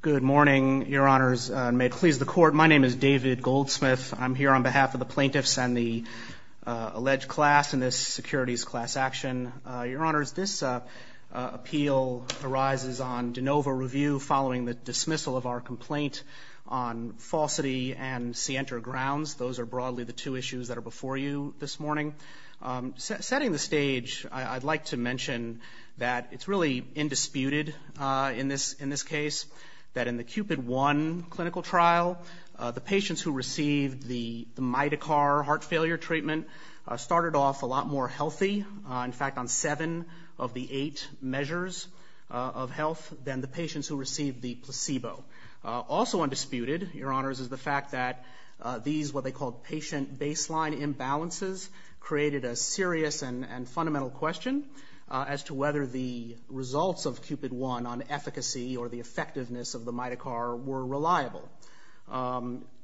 Good morning, Your Honors, and may it please the Court, my name is David Goldsmith. I'm here on behalf of the plaintiffs and the alleged class in this securities class action. Your Honors, this appeal arises on de novo review following the dismissal of our complaint on falsity and scienter grounds. Those are broadly the two issues that are before you this morning. Setting the stage, I'd like to mention that it's really indisputed in this case that in the Cupid I clinical trial, the patients who received the Mitocar heart failure treatment started off a lot more healthy, in fact, on seven of the eight measures of health than the patients who received the placebo. Also undisputed, Your Honors, is the fact that these what they called patient baseline imbalances created a serious and fundamental question as to whether the results of Cupid I on efficacy or the effectiveness of the Mitocar were reliable.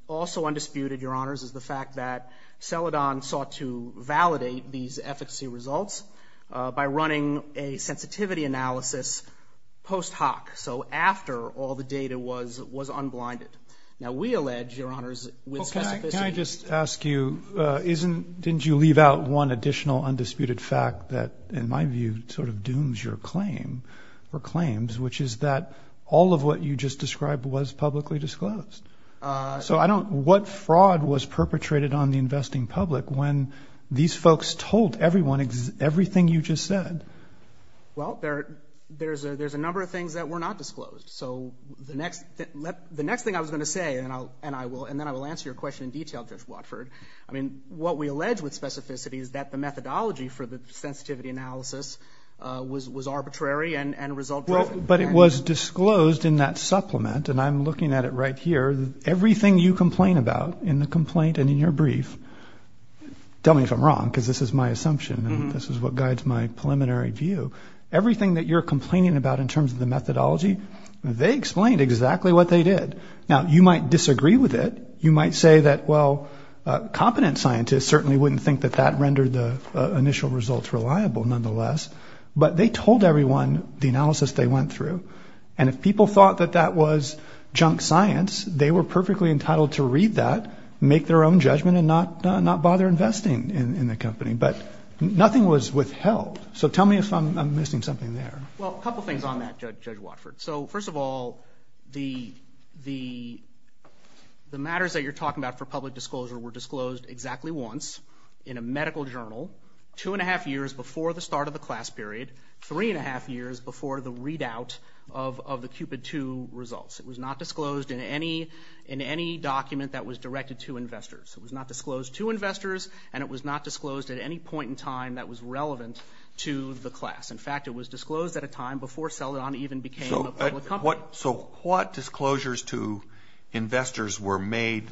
Also undisputed, Your Honors, is the fact that Celladon sought to validate these efficacy results by running a sensitivity analysis post hoc, so after all the data was unblinded. Now, we allege, Your Honors, with specificity. Can I just ask you, didn't you leave out one additional undisputed fact that, in my view, sort of dooms your claim or claims, which is that all of what you just described was publicly disclosed? So what fraud was perpetrated on the investing public when these folks told everyone everything you just said? Well, there's a number of things that were not disclosed, so the next thing I was going to say, and then I will answer your question in detail, Judge Watford, I mean, what we allege with specificity is that the methodology for the sensitivity analysis was arbitrary and result-driven. But it was disclosed in that supplement, and I'm looking at it right here, everything you complain about in the complaint and in your brief, tell me if I'm wrong, because this is my assumption and this is what guides my preliminary view. Everything that you're complaining about in terms of the methodology, they explained exactly what they did. Now, you might disagree with it. You might say that, well, competent scientists certainly wouldn't think that that rendered the initial results reliable, nonetheless, but they told everyone the analysis they went through. And if people thought that that was junk science, they were perfectly entitled to read that, make their own judgment, and not bother investing in the company. But nothing was withheld. So tell me if I'm missing something there. Well, a couple things on that, Judge Watford. So first of all, the matters that you're talking about for public disclosure were disclosed exactly once in a medical journal two and a half years before the start of the class period, three and a half years before the readout of the Cupid II results. It was not disclosed in any document that was directed to investors. It was not disclosed to investors, and it was not disclosed at any point in time that was relevant to the class. In fact, it was disclosed at a time before Celadon even became a public company. So what disclosures to investors were made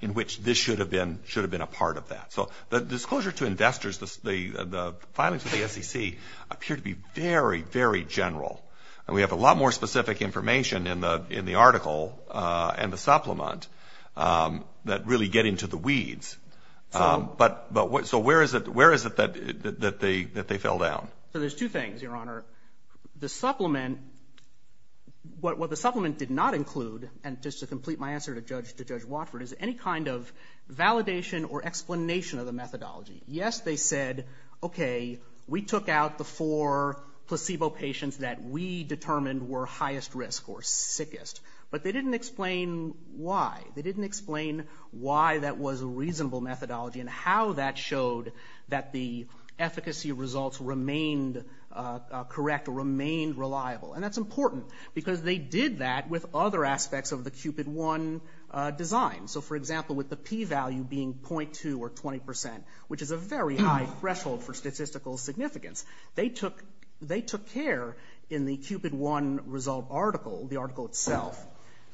in which this should have been a part of that? So the disclosure to investors, the findings of the SEC appear to be very, very general. And we have a lot more specific information in the article and the supplement that really get into the weeds. So where is it that they fell down? So there's two things, Your Honor. The supplement, what the supplement did not include, and just to complete my answer to Judge Watford, is any kind of validation or explanation of the methodology. Yes, they said, okay, we took out the four placebo patients that we determined were highest risk or sickest, but they didn't explain why. They didn't explain why that was a reasonable methodology and how that showed that the efficacy results remained correct or remained reliable. And that's important because they did that with other aspects of the CUPID-1 design. So, for example, with the p-value being .2 or 20%, which is a very high threshold for statistical significance, they took care in the CUPID-1 result article, the article itself,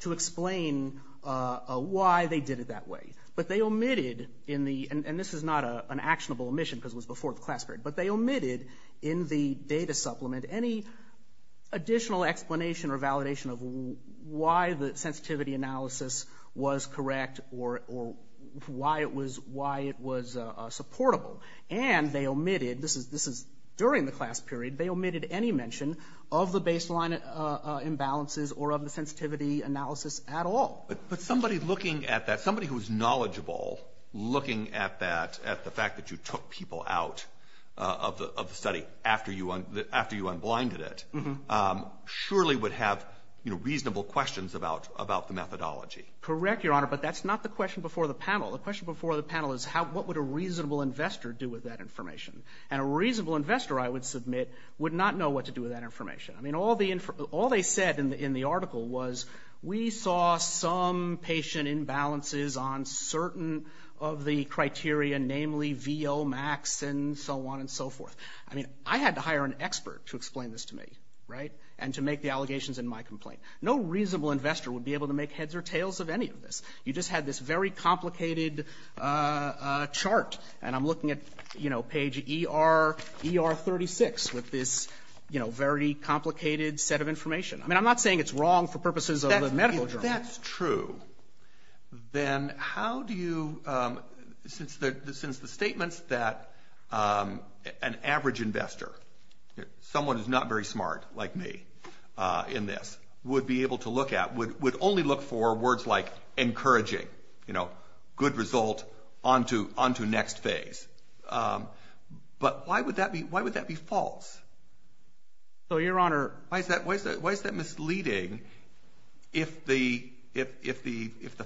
to explain why they did it that way. But they omitted, and this is not an actionable omission because it was before the class period, but they omitted in the data supplement any additional explanation or validation of why the sensitivity analysis was correct or why it was supportable. And they omitted, this is during the class period, they omitted any mention of the baseline imbalances or of the sensitivity analysis at all. But somebody looking at that, somebody who's knowledgeable looking at that, at the fact that you took people out of the study after you unblinded it, surely would have reasonable questions about the methodology. Correct, Your Honor, but that's not the question before the panel. The question before the panel is what would a reasonable investor do with that information? And a reasonable investor, I would submit, would not know what to do with that information. I mean, all they said in the article was, we saw some patient imbalances on certain of the criteria, namely VO max and so on and so forth. I mean, I had to hire an expert to explain this to me, right, and to make the allegations in my complaint. No reasonable investor would be able to make heads or tails of any of this. You just had this very complicated chart, and I'm looking at, you know, page ER 36 with this, you know, very complicated set of information. I mean, I'm not saying it's wrong for purposes of the medical journal. If that's true, then how do you, since the statements that an average investor, someone who's not very smart like me in this, would be able to look at, would only look for words like encouraging, you know, good result onto next phase. But why would that be false? So, Your Honor. Why is that misleading if the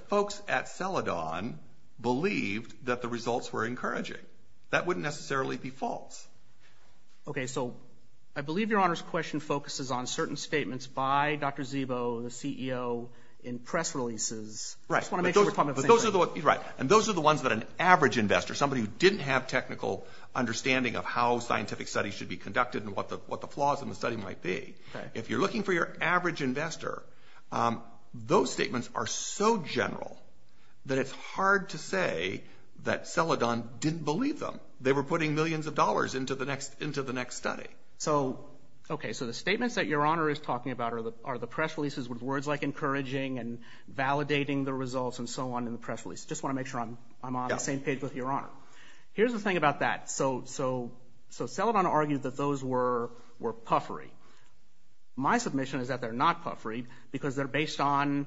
folks at Celadon believed that the results were encouraging? That wouldn't necessarily be false. Okay. So I believe Your Honor's question focuses on certain statements by Dr. Zibo, the CEO, in press releases. Right. I just want to make sure we're talking about the same thing. Right. And those are the ones that an average investor, somebody who didn't have technical understanding of how scientific studies should be conducted and what the flaws in the study might be, if you're looking for your average investor, those statements are so general that it's hard to say that Celadon didn't believe them. They were putting millions of dollars into the next study. So, okay. So the statements that Your Honor is talking about are the press releases with words like encouraging and validating the results and so on in the press release. I just want to make sure I'm on the same page with Your Honor. Here's the thing about that. So Celadon argued that those were puffery. My submission is that they're not puffery because they're based on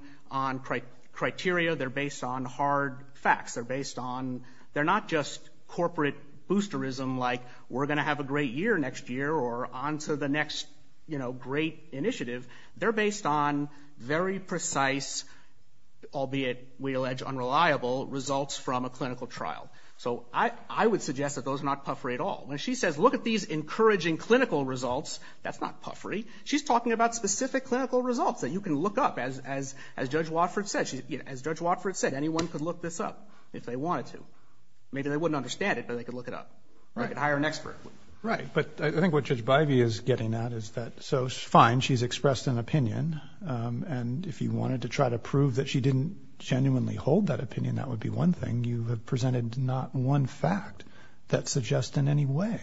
criteria. They're based on hard facts. They're based on they're not just corporate boosterism like we're going to have a great year next year or on to the next, you know, great initiative. They're based on very precise, albeit we allege unreliable, results from a clinical trial. So I would suggest that those are not puffery at all. When she says look at these encouraging clinical results, that's not puffery. She's talking about specific clinical results that you can look up, as Judge Watford said. Anyone could look this up if they wanted to. Maybe they wouldn't understand it, but they could look it up. They could hire an expert. Right. But I think what Judge Bivey is getting at is that so fine, she's expressed an opinion, and if you wanted to try to prove that she didn't genuinely hold that opinion, that would be one thing. You have presented not one fact that suggests in any way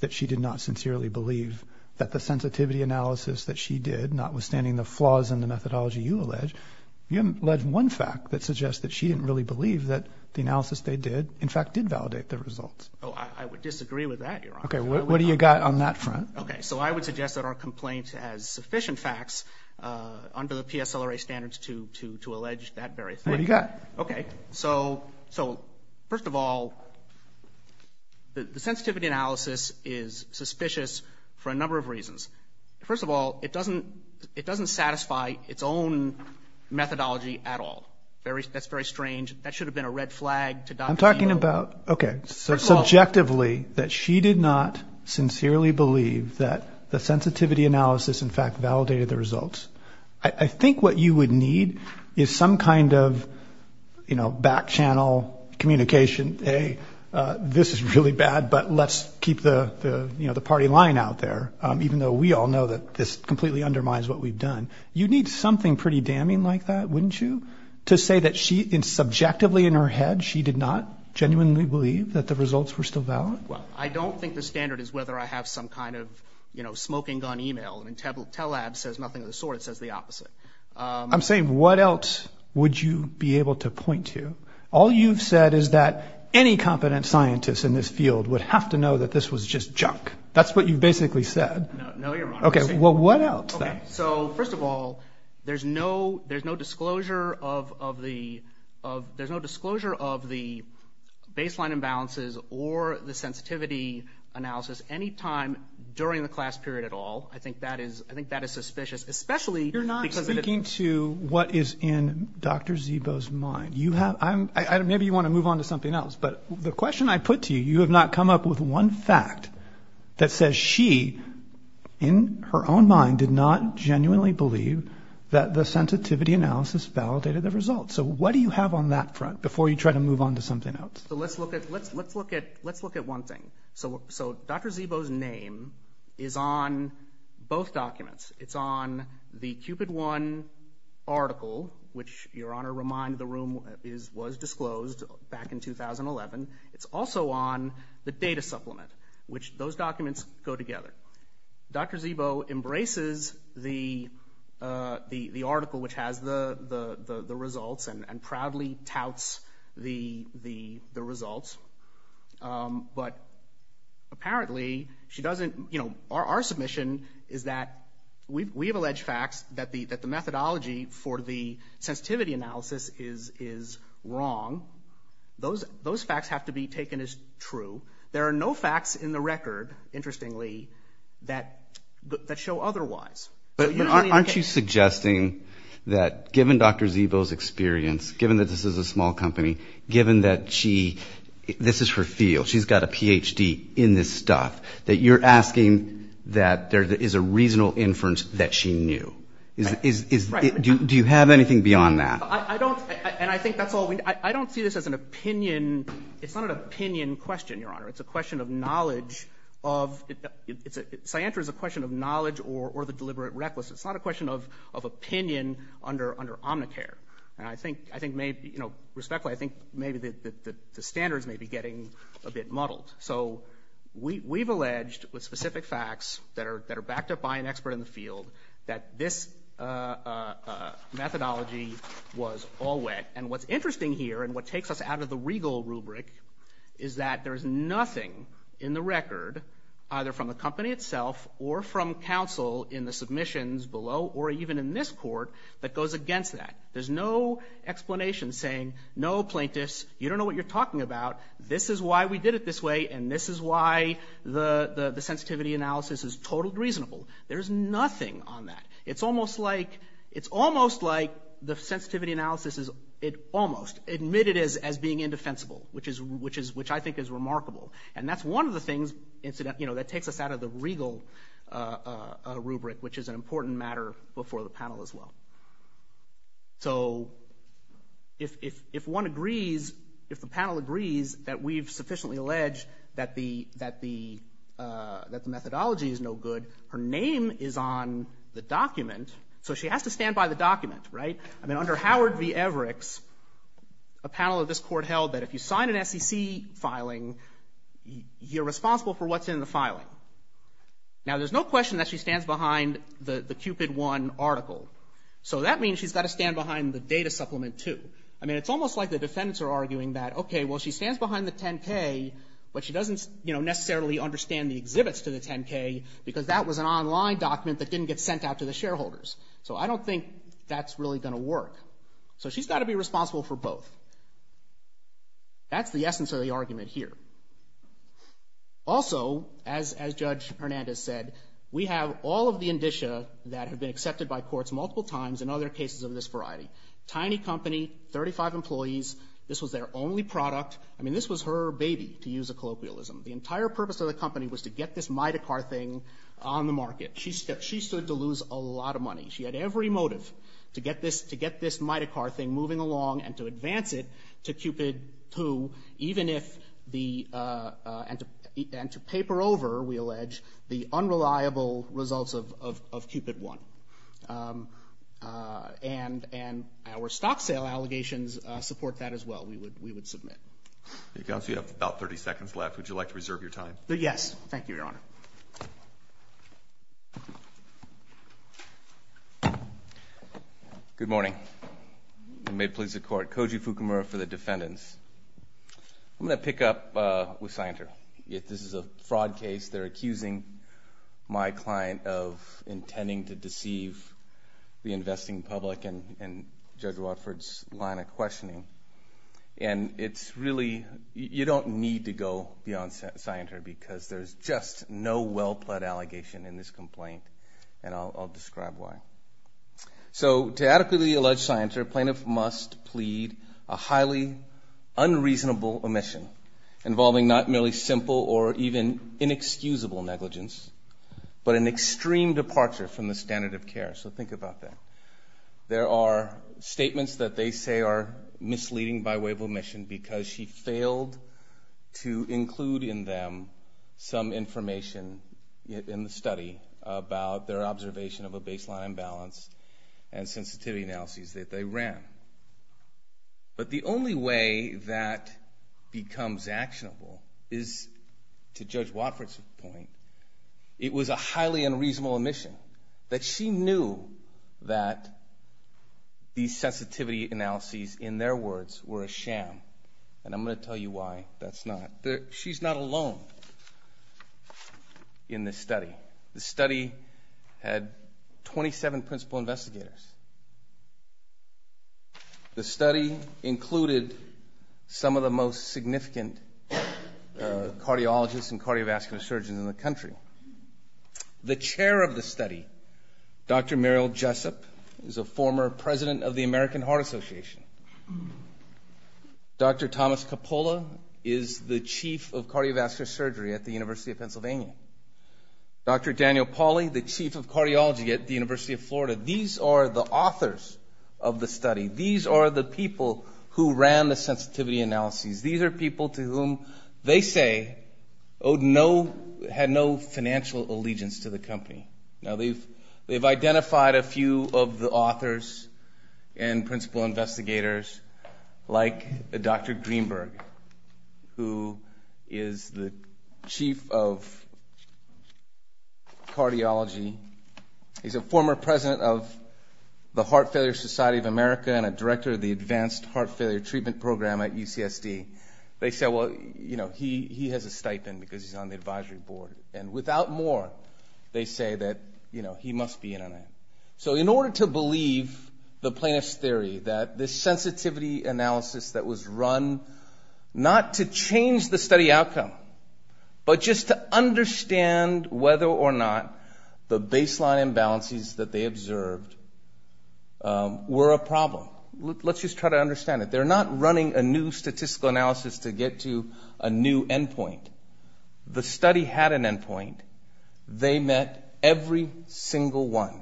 that she did not sincerely believe that the sensitivity analysis that she did, notwithstanding the flaws in the methodology you allege, you allege one fact that suggests that she didn't really believe that the analysis they did, in fact, did validate the results. Oh, I would disagree with that, Your Honor. Okay. What do you got on that front? Okay. So I would suggest that our complaint has sufficient facts under the PSLRA standards to allege that very thing. What do you got? So first of all, the sensitivity analysis is suspicious for a number of reasons. First of all, it doesn't satisfy its own methodology at all. That's very strange. That should have been a red flag to Dr. Zito. I'm talking about, okay, so subjectively that she did not sincerely believe that the sensitivity analysis, in fact, validated the results. I think what you would need is some kind of, you know, back channel communication, hey, this is really bad, but let's keep the, you know, the party line out there, even though we all know that this completely undermines what we've done. You'd need something pretty damning like that, wouldn't you, to say that she, subjectively in her head, she did not genuinely believe that the results were still valid? Well, I don't think the standard is whether I have some kind of, you know, smoking gun e-mail. I mean, TELAB says nothing of the sort. It says the opposite. I'm saying what else would you be able to point to? All you've said is that any competent scientist in this field would have to know that this was just junk. That's what you've basically said. No, you're wrong. Okay, well, what else then? Okay, so first of all, there's no disclosure of the baseline imbalances or the sensitivity analysis any time during the class period at all. I think that is suspicious, especially because of the- You're not speaking to what is in Dr. Zito's mind. Maybe you want to move on to something else, but the question I put to you, you have not come up with one fact that says she, in her own mind, did not genuinely believe that the sensitivity analysis validated the results. So what do you have on that front before you try to move on to something else? So let's look at one thing. So Dr. Zito's name is on both documents. It's on the Cupid One article, which, Your Honor, remind the room, was disclosed back in 2011. It's also on the data supplement, which those documents go together. Dr. Zito embraces the article which has the results and proudly touts the results. But apparently she doesn't, you know, our submission is that we have alleged facts that the methodology for the sensitivity analysis is wrong. Those facts have to be taken as true. There are no facts in the record, interestingly, that show otherwise. But aren't you suggesting that given Dr. Zito's experience, given that this is a small company, given that this is her field, she's got a Ph.D. in this stuff, that you're asking that there is a reasonable inference that she knew? Do you have anything beyond that? I don't, and I think that's all we need. I don't see this as an opinion. It's not an opinion question, Your Honor. It's a question of knowledge. Cyanter is a question of knowledge or the deliberate recklessness. It's not a question of opinion under Omnicare. And I think maybe, you know, respectfully, I think maybe the standards may be getting a bit muddled. So we've alleged with specific facts that are backed up by an expert in the field that this methodology was all wet. And what's interesting here and what takes us out of the regal rubric is that there is nothing in the record, either from the company itself or from counsel in the submissions below or even in this court, that goes against that. There's no explanation saying, no, plaintiffs, you don't know what you're talking about. This is why we did it this way, and this is why the sensitivity analysis is totally reasonable. There's nothing on that. It's almost like the sensitivity analysis is almost admitted as being indefensible, which I think is remarkable. And that's one of the things, you know, that takes us out of the regal rubric, which is an important matter before the panel as well. So if one agrees, if the panel agrees that we've sufficiently alleged that the methodology is no good, her name is on the document, so she has to stand by the document, right? I mean, under Howard v. Everix, a panel of this court held that if you sign an SEC filing, you're responsible for what's in the filing. Now, there's no question that she stands behind the Cupid 1 article, so that means she's got to stand behind the Data Supplement 2. I mean, it's almost like the defendants are arguing that, okay, well, she stands behind the 10-K, but she doesn't, you know, necessarily understand the exhibits to the 10-K because that was an online document that didn't get sent out to the shareholders. So I don't think that's really going to work. So she's got to be responsible for both. That's the essence of the argument here. Also, as Judge Hernandez said, we have all of the indicia that have been accepted by courts multiple times in other cases of this variety. Tiny company, 35 employees, this was their only product. I mean, this was her baby, to use a colloquialism. The entire purpose of the company was to get this Midecar thing on the market. She stood to lose a lot of money. She had every motive to get this Midecar thing moving along and to advance it to Cupid 2, even if the — and to paper over, we allege, the unreliable results of Cupid 1. And our stock sale allegations support that as well, we would submit. You have about 30 seconds left. Would you like to reserve your time? Yes. Thank you, Your Honor. Thank you, Your Honor. Good morning, and may it please the Court. Koji Fukumura for the defendants. I'm going to pick up with Scienter. This is a fraud case. They're accusing my client of intending to deceive the investing public and Judge Watford's line of questioning. And it's really — you don't need to go beyond Scienter because there's just no well-plead allegation in this complaint, and I'll describe why. So to adequately allege Scienter, plaintiff must plead a highly unreasonable omission involving not merely simple or even inexcusable negligence, but an extreme departure from the standard of care. So think about that. There are statements that they say are misleading by way of omission because she failed to include in them some information in the study about their observation of a baseline imbalance and sensitivity analyses that they ran. But the only way that becomes actionable is, to Judge Watford's point, it was a highly unreasonable omission, that she knew that these sensitivity analyses, in their words, were a sham. And I'm going to tell you why that's not. She's not alone in this study. The study had 27 principal investigators. The study included some of the most significant cardiologists and cardiovascular surgeons in the country. The chair of the study, Dr. Meryl Jessup, is a former president of the American Heart Association. Dr. Thomas Coppola is the chief of cardiovascular surgery at the University of Pennsylvania. Dr. Daniel Pauly, the chief of cardiology at the University of Florida. These are the authors of the study. These are the people who ran the sensitivity analyses. These are people to whom they say owed no, had no financial allegiance to the company. Now, they've identified a few of the authors and principal investigators, like Dr. Greenberg, who is the chief of cardiology. He's a former president of the Heart Failure Society of America and a director of the Advanced Heart Failure Treatment Program at UCSD. They say, well, you know, he has a stipend because he's on the advisory board. And without more, they say that, you know, he must be in on it. So in order to believe the plaintiff's theory that this sensitivity analysis that was run not to change the study outcome, but just to understand whether or not the baseline imbalances that they observed were a problem. Let's just try to understand it. They're not running a new statistical analysis to get to a new endpoint. The study had an endpoint. They met every single one.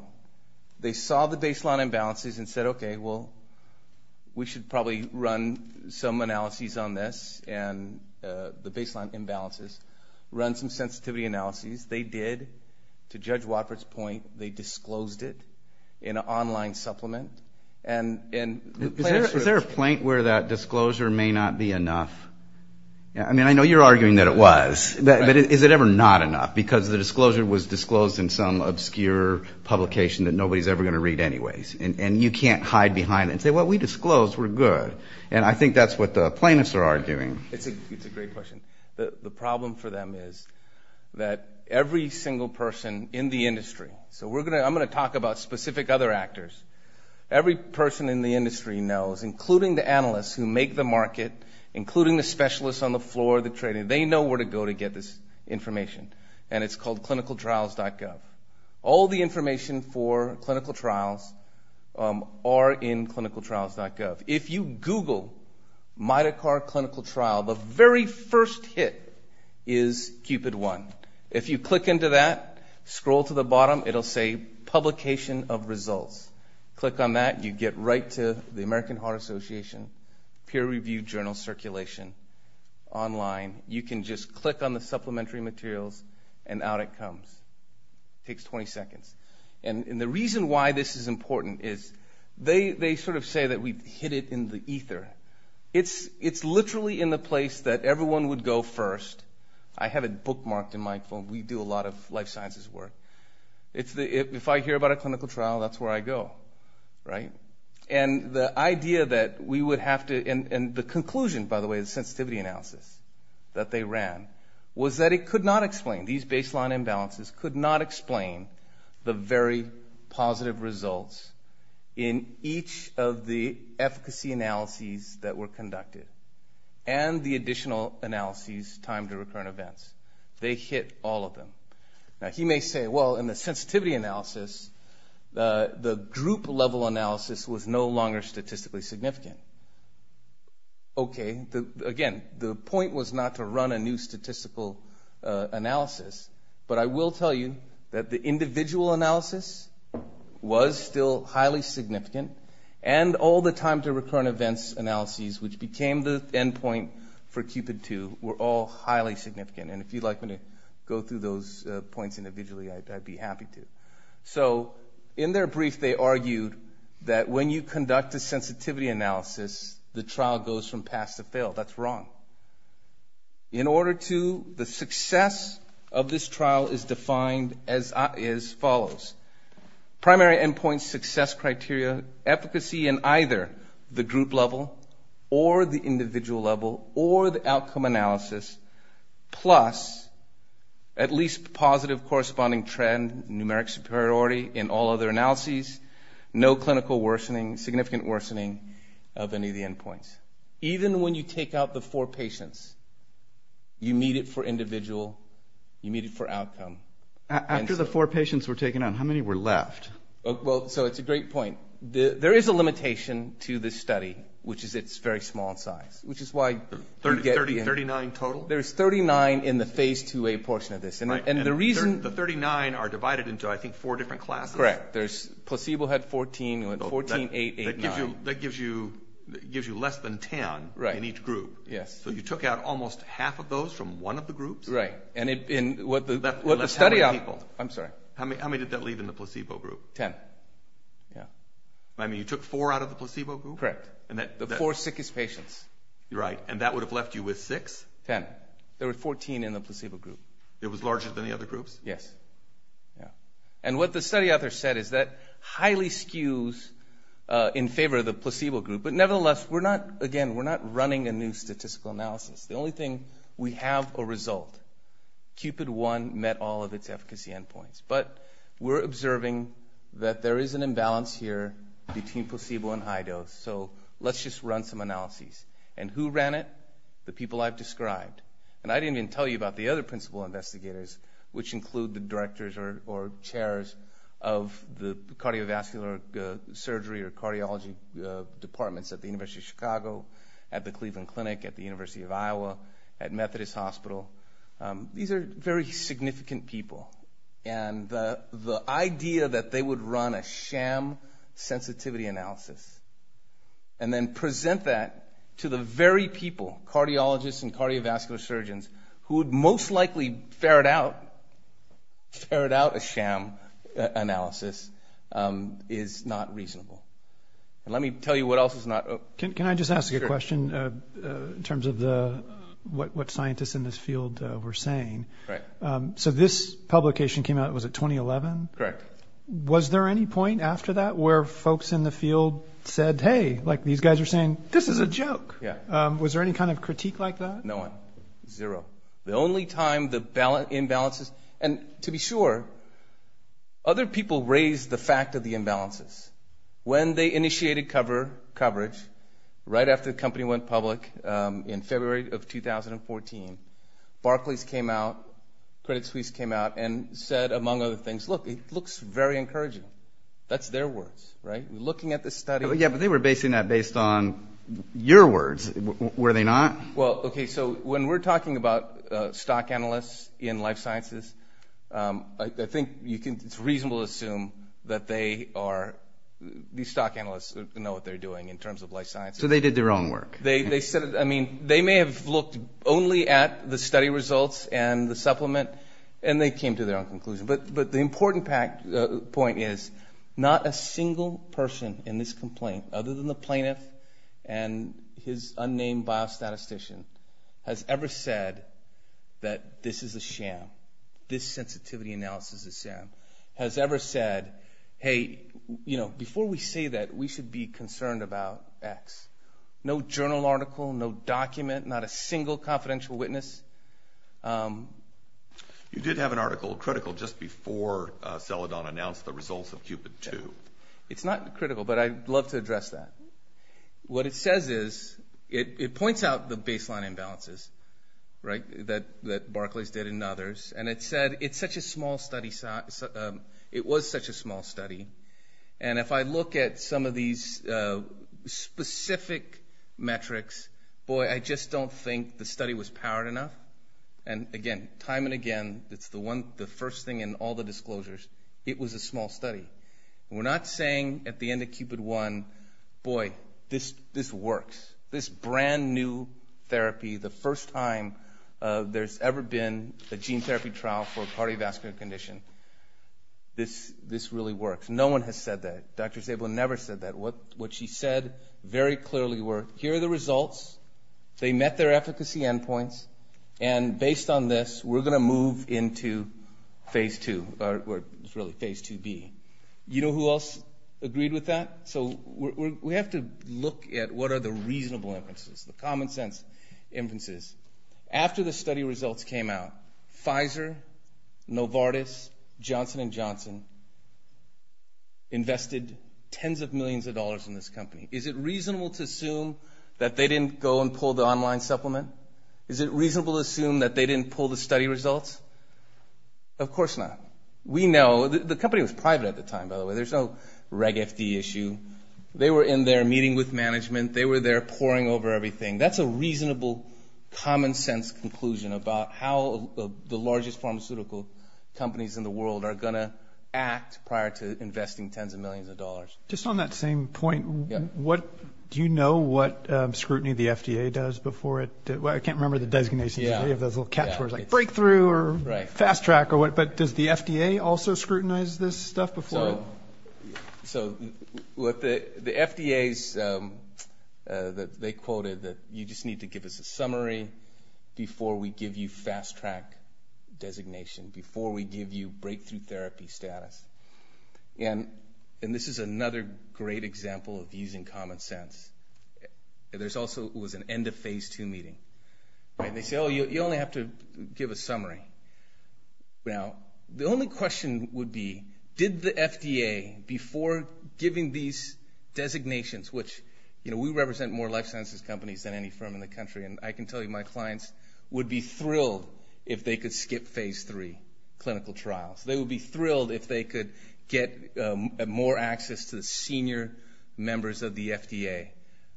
They saw the baseline imbalances and said, okay, well, we should probably run some analyses on this and the baseline imbalances, run some sensitivity analyses. They did. To Judge Watford's point, they disclosed it in an online supplement. Is there a point where that disclosure may not be enough? I mean, I know you're arguing that it was. But is it ever not enough? Because the disclosure was disclosed in some obscure publication that nobody's ever going to read anyways. And you can't hide behind it and say, well, we disclosed, we're good. And I think that's what the plaintiffs are arguing. It's a great question. The problem for them is that every single person in the industry, so I'm going to talk about specific other actors. Every person in the industry knows, including the analysts who make the market, including the specialists on the floor of the training, they know where to go to get this information. And it's called clinicaltrials.gov. All the information for clinical trials are in clinicaltrials.gov. If you Google mitochord clinical trial, the very first hit is CUPID-1. If you click into that, scroll to the bottom, it will say publication of results. Click on that, you get right to the American Heart Association, peer-reviewed journal circulation, online. You can just click on the supplementary materials, and out it comes. It takes 20 seconds. And the reason why this is important is they sort of say that we've hit it in the ether. It's literally in the place that everyone would go first. I have it bookmarked in my phone. We do a lot of life sciences work. If I hear about a clinical trial, that's where I go, right? And the idea that we would have to, and the conclusion, by the way, the sensitivity analysis that they ran was that it could not explain, these baseline imbalances could not explain the very positive results in each of the efficacy analyses that were conducted and the additional analyses timed to recurrent events. They hit all of them. Now, he may say, well, in the sensitivity analysis, the group-level analysis was no longer statistically significant. Okay. Again, the point was not to run a new statistical analysis, but I will tell you that the individual analysis was still highly significant and all the timed-to-recurrent-events analyses, which became the endpoint for Cupid 2, were all highly significant. And if you'd like me to go through those points individually, I'd be happy to. So in their brief, they argued that when you conduct a sensitivity analysis, the trial goes from pass to fail. That's wrong. In order to, the success of this trial is defined as follows. Primary endpoint success criteria, efficacy in either the group-level or the individual-level or the outcome analysis, plus at least positive corresponding trend, numeric superiority in all other analyses, no clinical worsening, significant worsening of any of the endpoints. Even when you take out the four patients, you meet it for individual, you meet it for outcome. After the four patients were taken out, how many were left? Well, so it's a great point. There is a limitation to this study, which is it's very small in size, which is why you get in. Thirty-nine total? There's 39 in the Phase IIa portion of this. And the reason the 39 are divided into, I think, four different classes. Correct. There's placebo had 14, you had 14, 8, 8, 9. That gives you less than 10 in each group. Yes. So you took out almost half of those from one of the groups? Right. And it, in what the study out, I'm sorry. How many did that leave in the placebo group? Ten, yeah. I mean, you took four out of the placebo group? Correct. The four sickest patients. Right. And that would have left you with six? Ten. There were 14 in the placebo group. It was larger than the other groups? Yes. Yeah. And what the study out there said is that highly skews in favor of the placebo group. But nevertheless, we're not, again, we're not running a new statistical analysis. The only thing, we have a result. Cupid I met all of its efficacy endpoints. But we're observing that there is an imbalance here between placebo and high dose. So let's just run some analyses. And who ran it? The people I've described. And I didn't even tell you about the other principal investigators, which include the directors or chairs of the cardiovascular surgery or cardiology departments at the University of Chicago, at the Cleveland Clinic, at the University of Iowa, at Methodist Hospital. These are very significant people. And the idea that they would run a sham sensitivity analysis and then present that to the very people, cardiologists and cardiovascular surgeons, who would most likely ferret out a sham analysis is not reasonable. And let me tell you what else is not. Can I just ask you a question in terms of what scientists in this field were saying? Right. So this publication came out, was it 2011? Correct. Was there any point after that where folks in the field said, hey, like these guys are saying, this is a joke? Yeah. Was there any kind of critique like that? No one. Zero. The only time the imbalances, and to be sure, other people raised the fact of the imbalances. When they initiated coverage, right after the company went public in February of 2014, Barclays came out, Credit Suisse came out and said, among other things, look, it looks very encouraging. That's their words, right? We're looking at this study. Yeah, but they were basing that based on your words, were they not? Well, okay, so when we're talking about stock analysts in life sciences, I think it's reasonable to assume that these stock analysts know what they're doing in terms of life sciences. So they did their own work. They may have looked only at the study results and the supplement, and they came to their own conclusion. But the important point is not a single person in this complaint, other than the plaintiff and his unnamed biostatistician, has ever said that this is a sham, this sensitivity analysis is a sham, has ever said, hey, you know, before we say that, we should be concerned about X. No journal article, no document, not a single confidential witness. You did have an article, a critical, just before Celadon announced the results of Cupid II. It's not critical, but I'd love to address that. What it says is, it points out the baseline imbalances, right, that Barclays did and others, and it said it's such a small study, it was such a small study. And if I look at some of these specific metrics, boy, I just don't think the study was powered enough. And again, time and again, it's the first thing in all the disclosures, it was a small study. We're not saying at the end of Cupid I, boy, this works. This brand-new therapy, the first time there's ever been a gene therapy trial for a cardiovascular condition. This really works. No one has said that. Dr. Sable never said that. What she said very clearly were, here are the results, they met their efficacy endpoints, and based on this, we're going to move into Phase II, or really, Phase IIb. You know who else agreed with that? So we have to look at what are the reasonable inferences, the common sense inferences. After the study results came out, Pfizer, Novartis, Johnson & Johnson invested tens of millions of dollars in this company. Is it reasonable to assume that they didn't go and pull the online supplement? Is it reasonable to assume that they didn't pull the study results? Of course not. We know, the company was private at the time, by the way, there's no reg FD issue. They were in their meeting with management, they were there poring over everything. That's a reasonable, common sense conclusion about how the largest pharmaceutical companies in the world are going to act prior to investing tens of millions of dollars. Just on that same point, do you know what scrutiny the FDA does before it? I can't remember the designations of any of those little catch words, like breakthrough or fast track or what, but does the FDA also scrutinize this stuff before? So the FDA, they quoted that you just need to give us a summary before we give you fast track designation, before we give you breakthrough therapy status. And this is another great example of using common sense. There also was an end of phase two meeting. They say, oh, you only have to give a summary. Now, the only question would be, did the FDA, before giving these designations, which we represent more life sciences companies than any firm in the country, and I can tell you my clients would be thrilled if they could skip phase three clinical trials. They would be thrilled if they could get more access to the senior members of the FDA.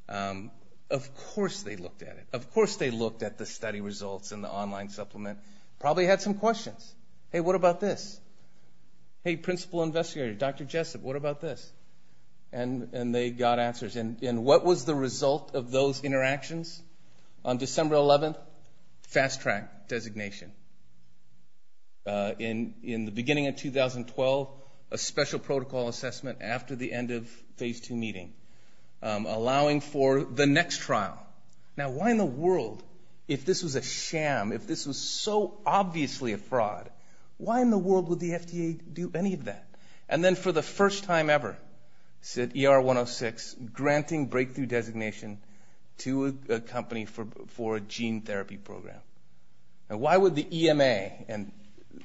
Of course they looked at it. Of course they looked at the study results and the online supplement. Probably had some questions. Hey, what about this? Hey, principal investigator, Dr. Jessup, what about this? And they got answers. And what was the result of those interactions? On December 11th, fast track designation. In the beginning of 2012, a special protocol assessment after the end of phase two meeting, allowing for the next trial. Now, why in the world, if this was a sham, if this was so obviously a fraud, why in the world would the FDA do any of that? And then for the first time ever, said ER106, granting breakthrough designation to a company for a gene therapy program. Now, why would the EMA,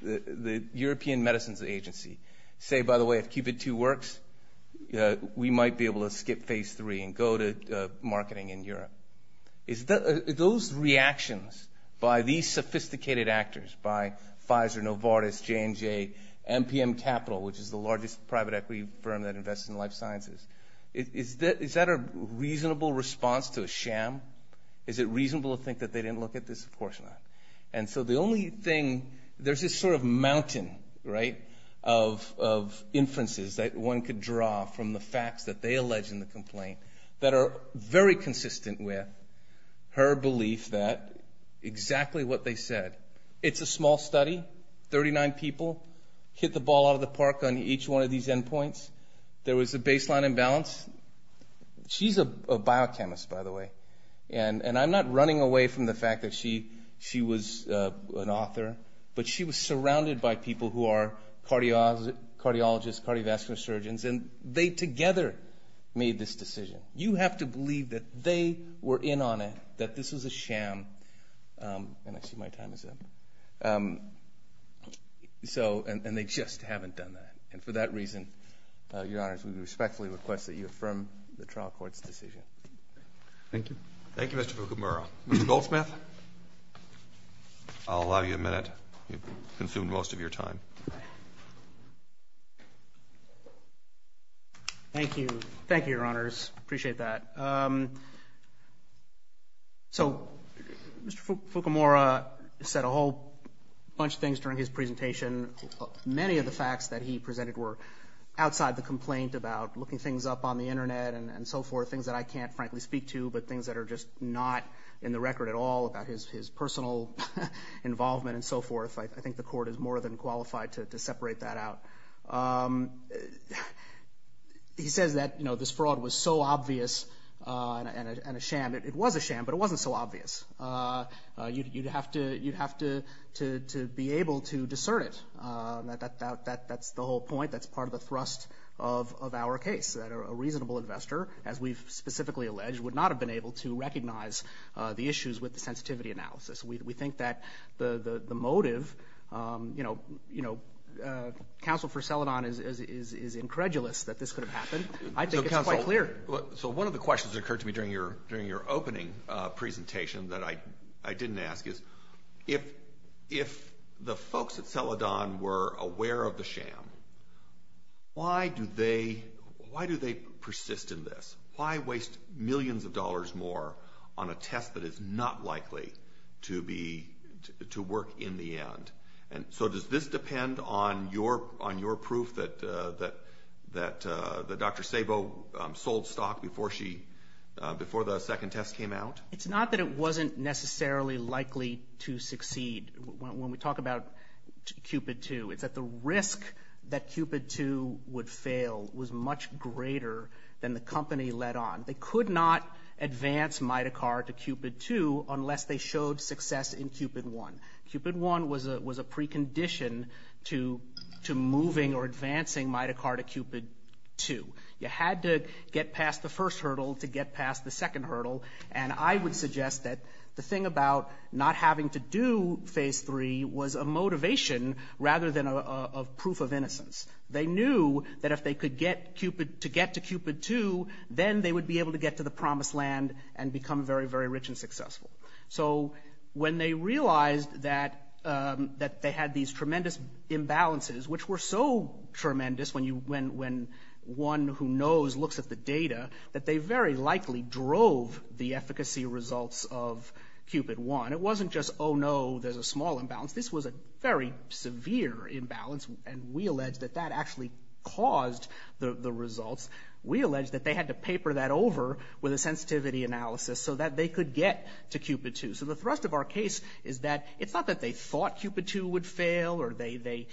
the European Medicines Agency, say, by the way, we might be able to skip phase three and go to marketing in Europe? Those reactions by these sophisticated actors, by Pfizer, Novartis, J&J, MPM Capital, which is the largest private equity firm that invests in life sciences, is that a reasonable response to a sham? Is it reasonable to think that they didn't look at this? Of course not. And so the only thing, there's this sort of mountain, right, of inferences that one could draw from the facts that they allege in the complaint that are very consistent with her belief that exactly what they said. It's a small study, 39 people hit the ball out of the park on each one of these endpoints. There was a baseline imbalance. She's a biochemist, by the way. And I'm not running away from the fact that she was an author, but she was surrounded by people who are cardiologists, cardiovascular surgeons, and they together made this decision. You have to believe that they were in on it, that this was a sham. And I see my time is up. And they just haven't done that. And for that reason, Your Honors, we respectfully request that you affirm the trial court's decision. Thank you. Thank you, Mr. Fukumura. Mr. Goldsmith, I'll allow you a minute. You've consumed most of your time. Thank you. Thank you, Your Honors. Appreciate that. So Mr. Fukumura said a whole bunch of things during his presentation. Many of the facts that he presented were outside the complaint about looking things up on the Internet and so forth, things that I can't frankly speak to, but things that are just not in the record at all about his personal involvement and so forth. I think the court is more than qualified to separate that out. He says that, you know, this fraud was so obvious and a sham. It was a sham, but it wasn't so obvious. You'd have to be able to discern it. That's the whole point. That's part of the thrust of our case, that a reasonable investor, as we've specifically alleged, would not have been able to recognize the issues with the sensitivity analysis. We think that the motive, you know, counsel for Celadon is incredulous that this could have happened. I think it's quite clear. So one of the questions that occurred to me during your opening presentation that I didn't ask is, if the folks at Celadon were aware of the sham, why do they persist in this? Why waste millions of dollars more on a test that is not likely to work in the end? So does this depend on your proof that Dr. Sabo sold stock before the second test came out? It's not that it wasn't necessarily likely to succeed. When we talk about CUPID-2, it's that the risk that CUPID-2 would fail was much greater than the company let on. They could not advance Mitocar to CUPID-2 unless they showed success in CUPID-1. CUPID-1 was a precondition to moving or advancing Mitocar to CUPID-2. You had to get past the first hurdle to get past the second hurdle. And I would suggest that the thing about not having to do Phase 3 was a motivation rather than a proof of innocence. They knew that if they could get to CUPID-2, then they would be able to get to the promised land and become very, very rich and successful. So when they realized that they had these tremendous imbalances, which were so tremendous when one who knows looks at the data, that they very likely drove the efficacy results of CUPID-1. It wasn't just, oh, no, there's a small imbalance. This was a very severe imbalance, and we allege that that actually caused the results. We allege that they had to paper that over with a sensitivity analysis so that they could get to CUPID-2. So the thrust of our case is that it's not that they thought CUPID-2 would fail or they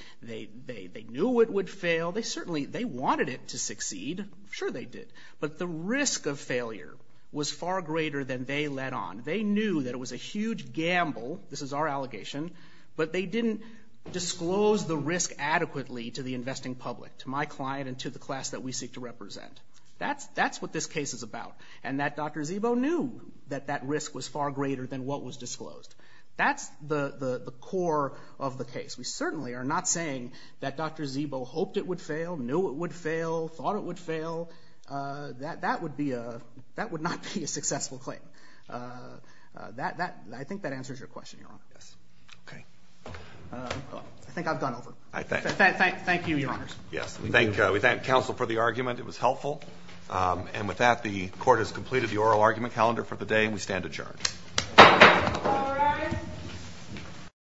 knew it would fail. They wanted it to succeed. Sure, they did. But the risk of failure was far greater than they let on. They knew that it was a huge gamble. This is our allegation. But they didn't disclose the risk adequately to the investing public, to my client and to the class that we seek to represent. That's what this case is about, and that Dr. Szibo knew that that risk was far greater than what was disclosed. That's the core of the case. We certainly are not saying that Dr. Szibo hoped it would fail, knew it would fail, thought it would fail. That would not be a successful claim. I think that answers your question. I think I've gone over. Thank you, Your Honors. We thank counsel for the argument. It was helpful. And with that, the court has completed the oral argument calendar for the day, and we stand adjourned.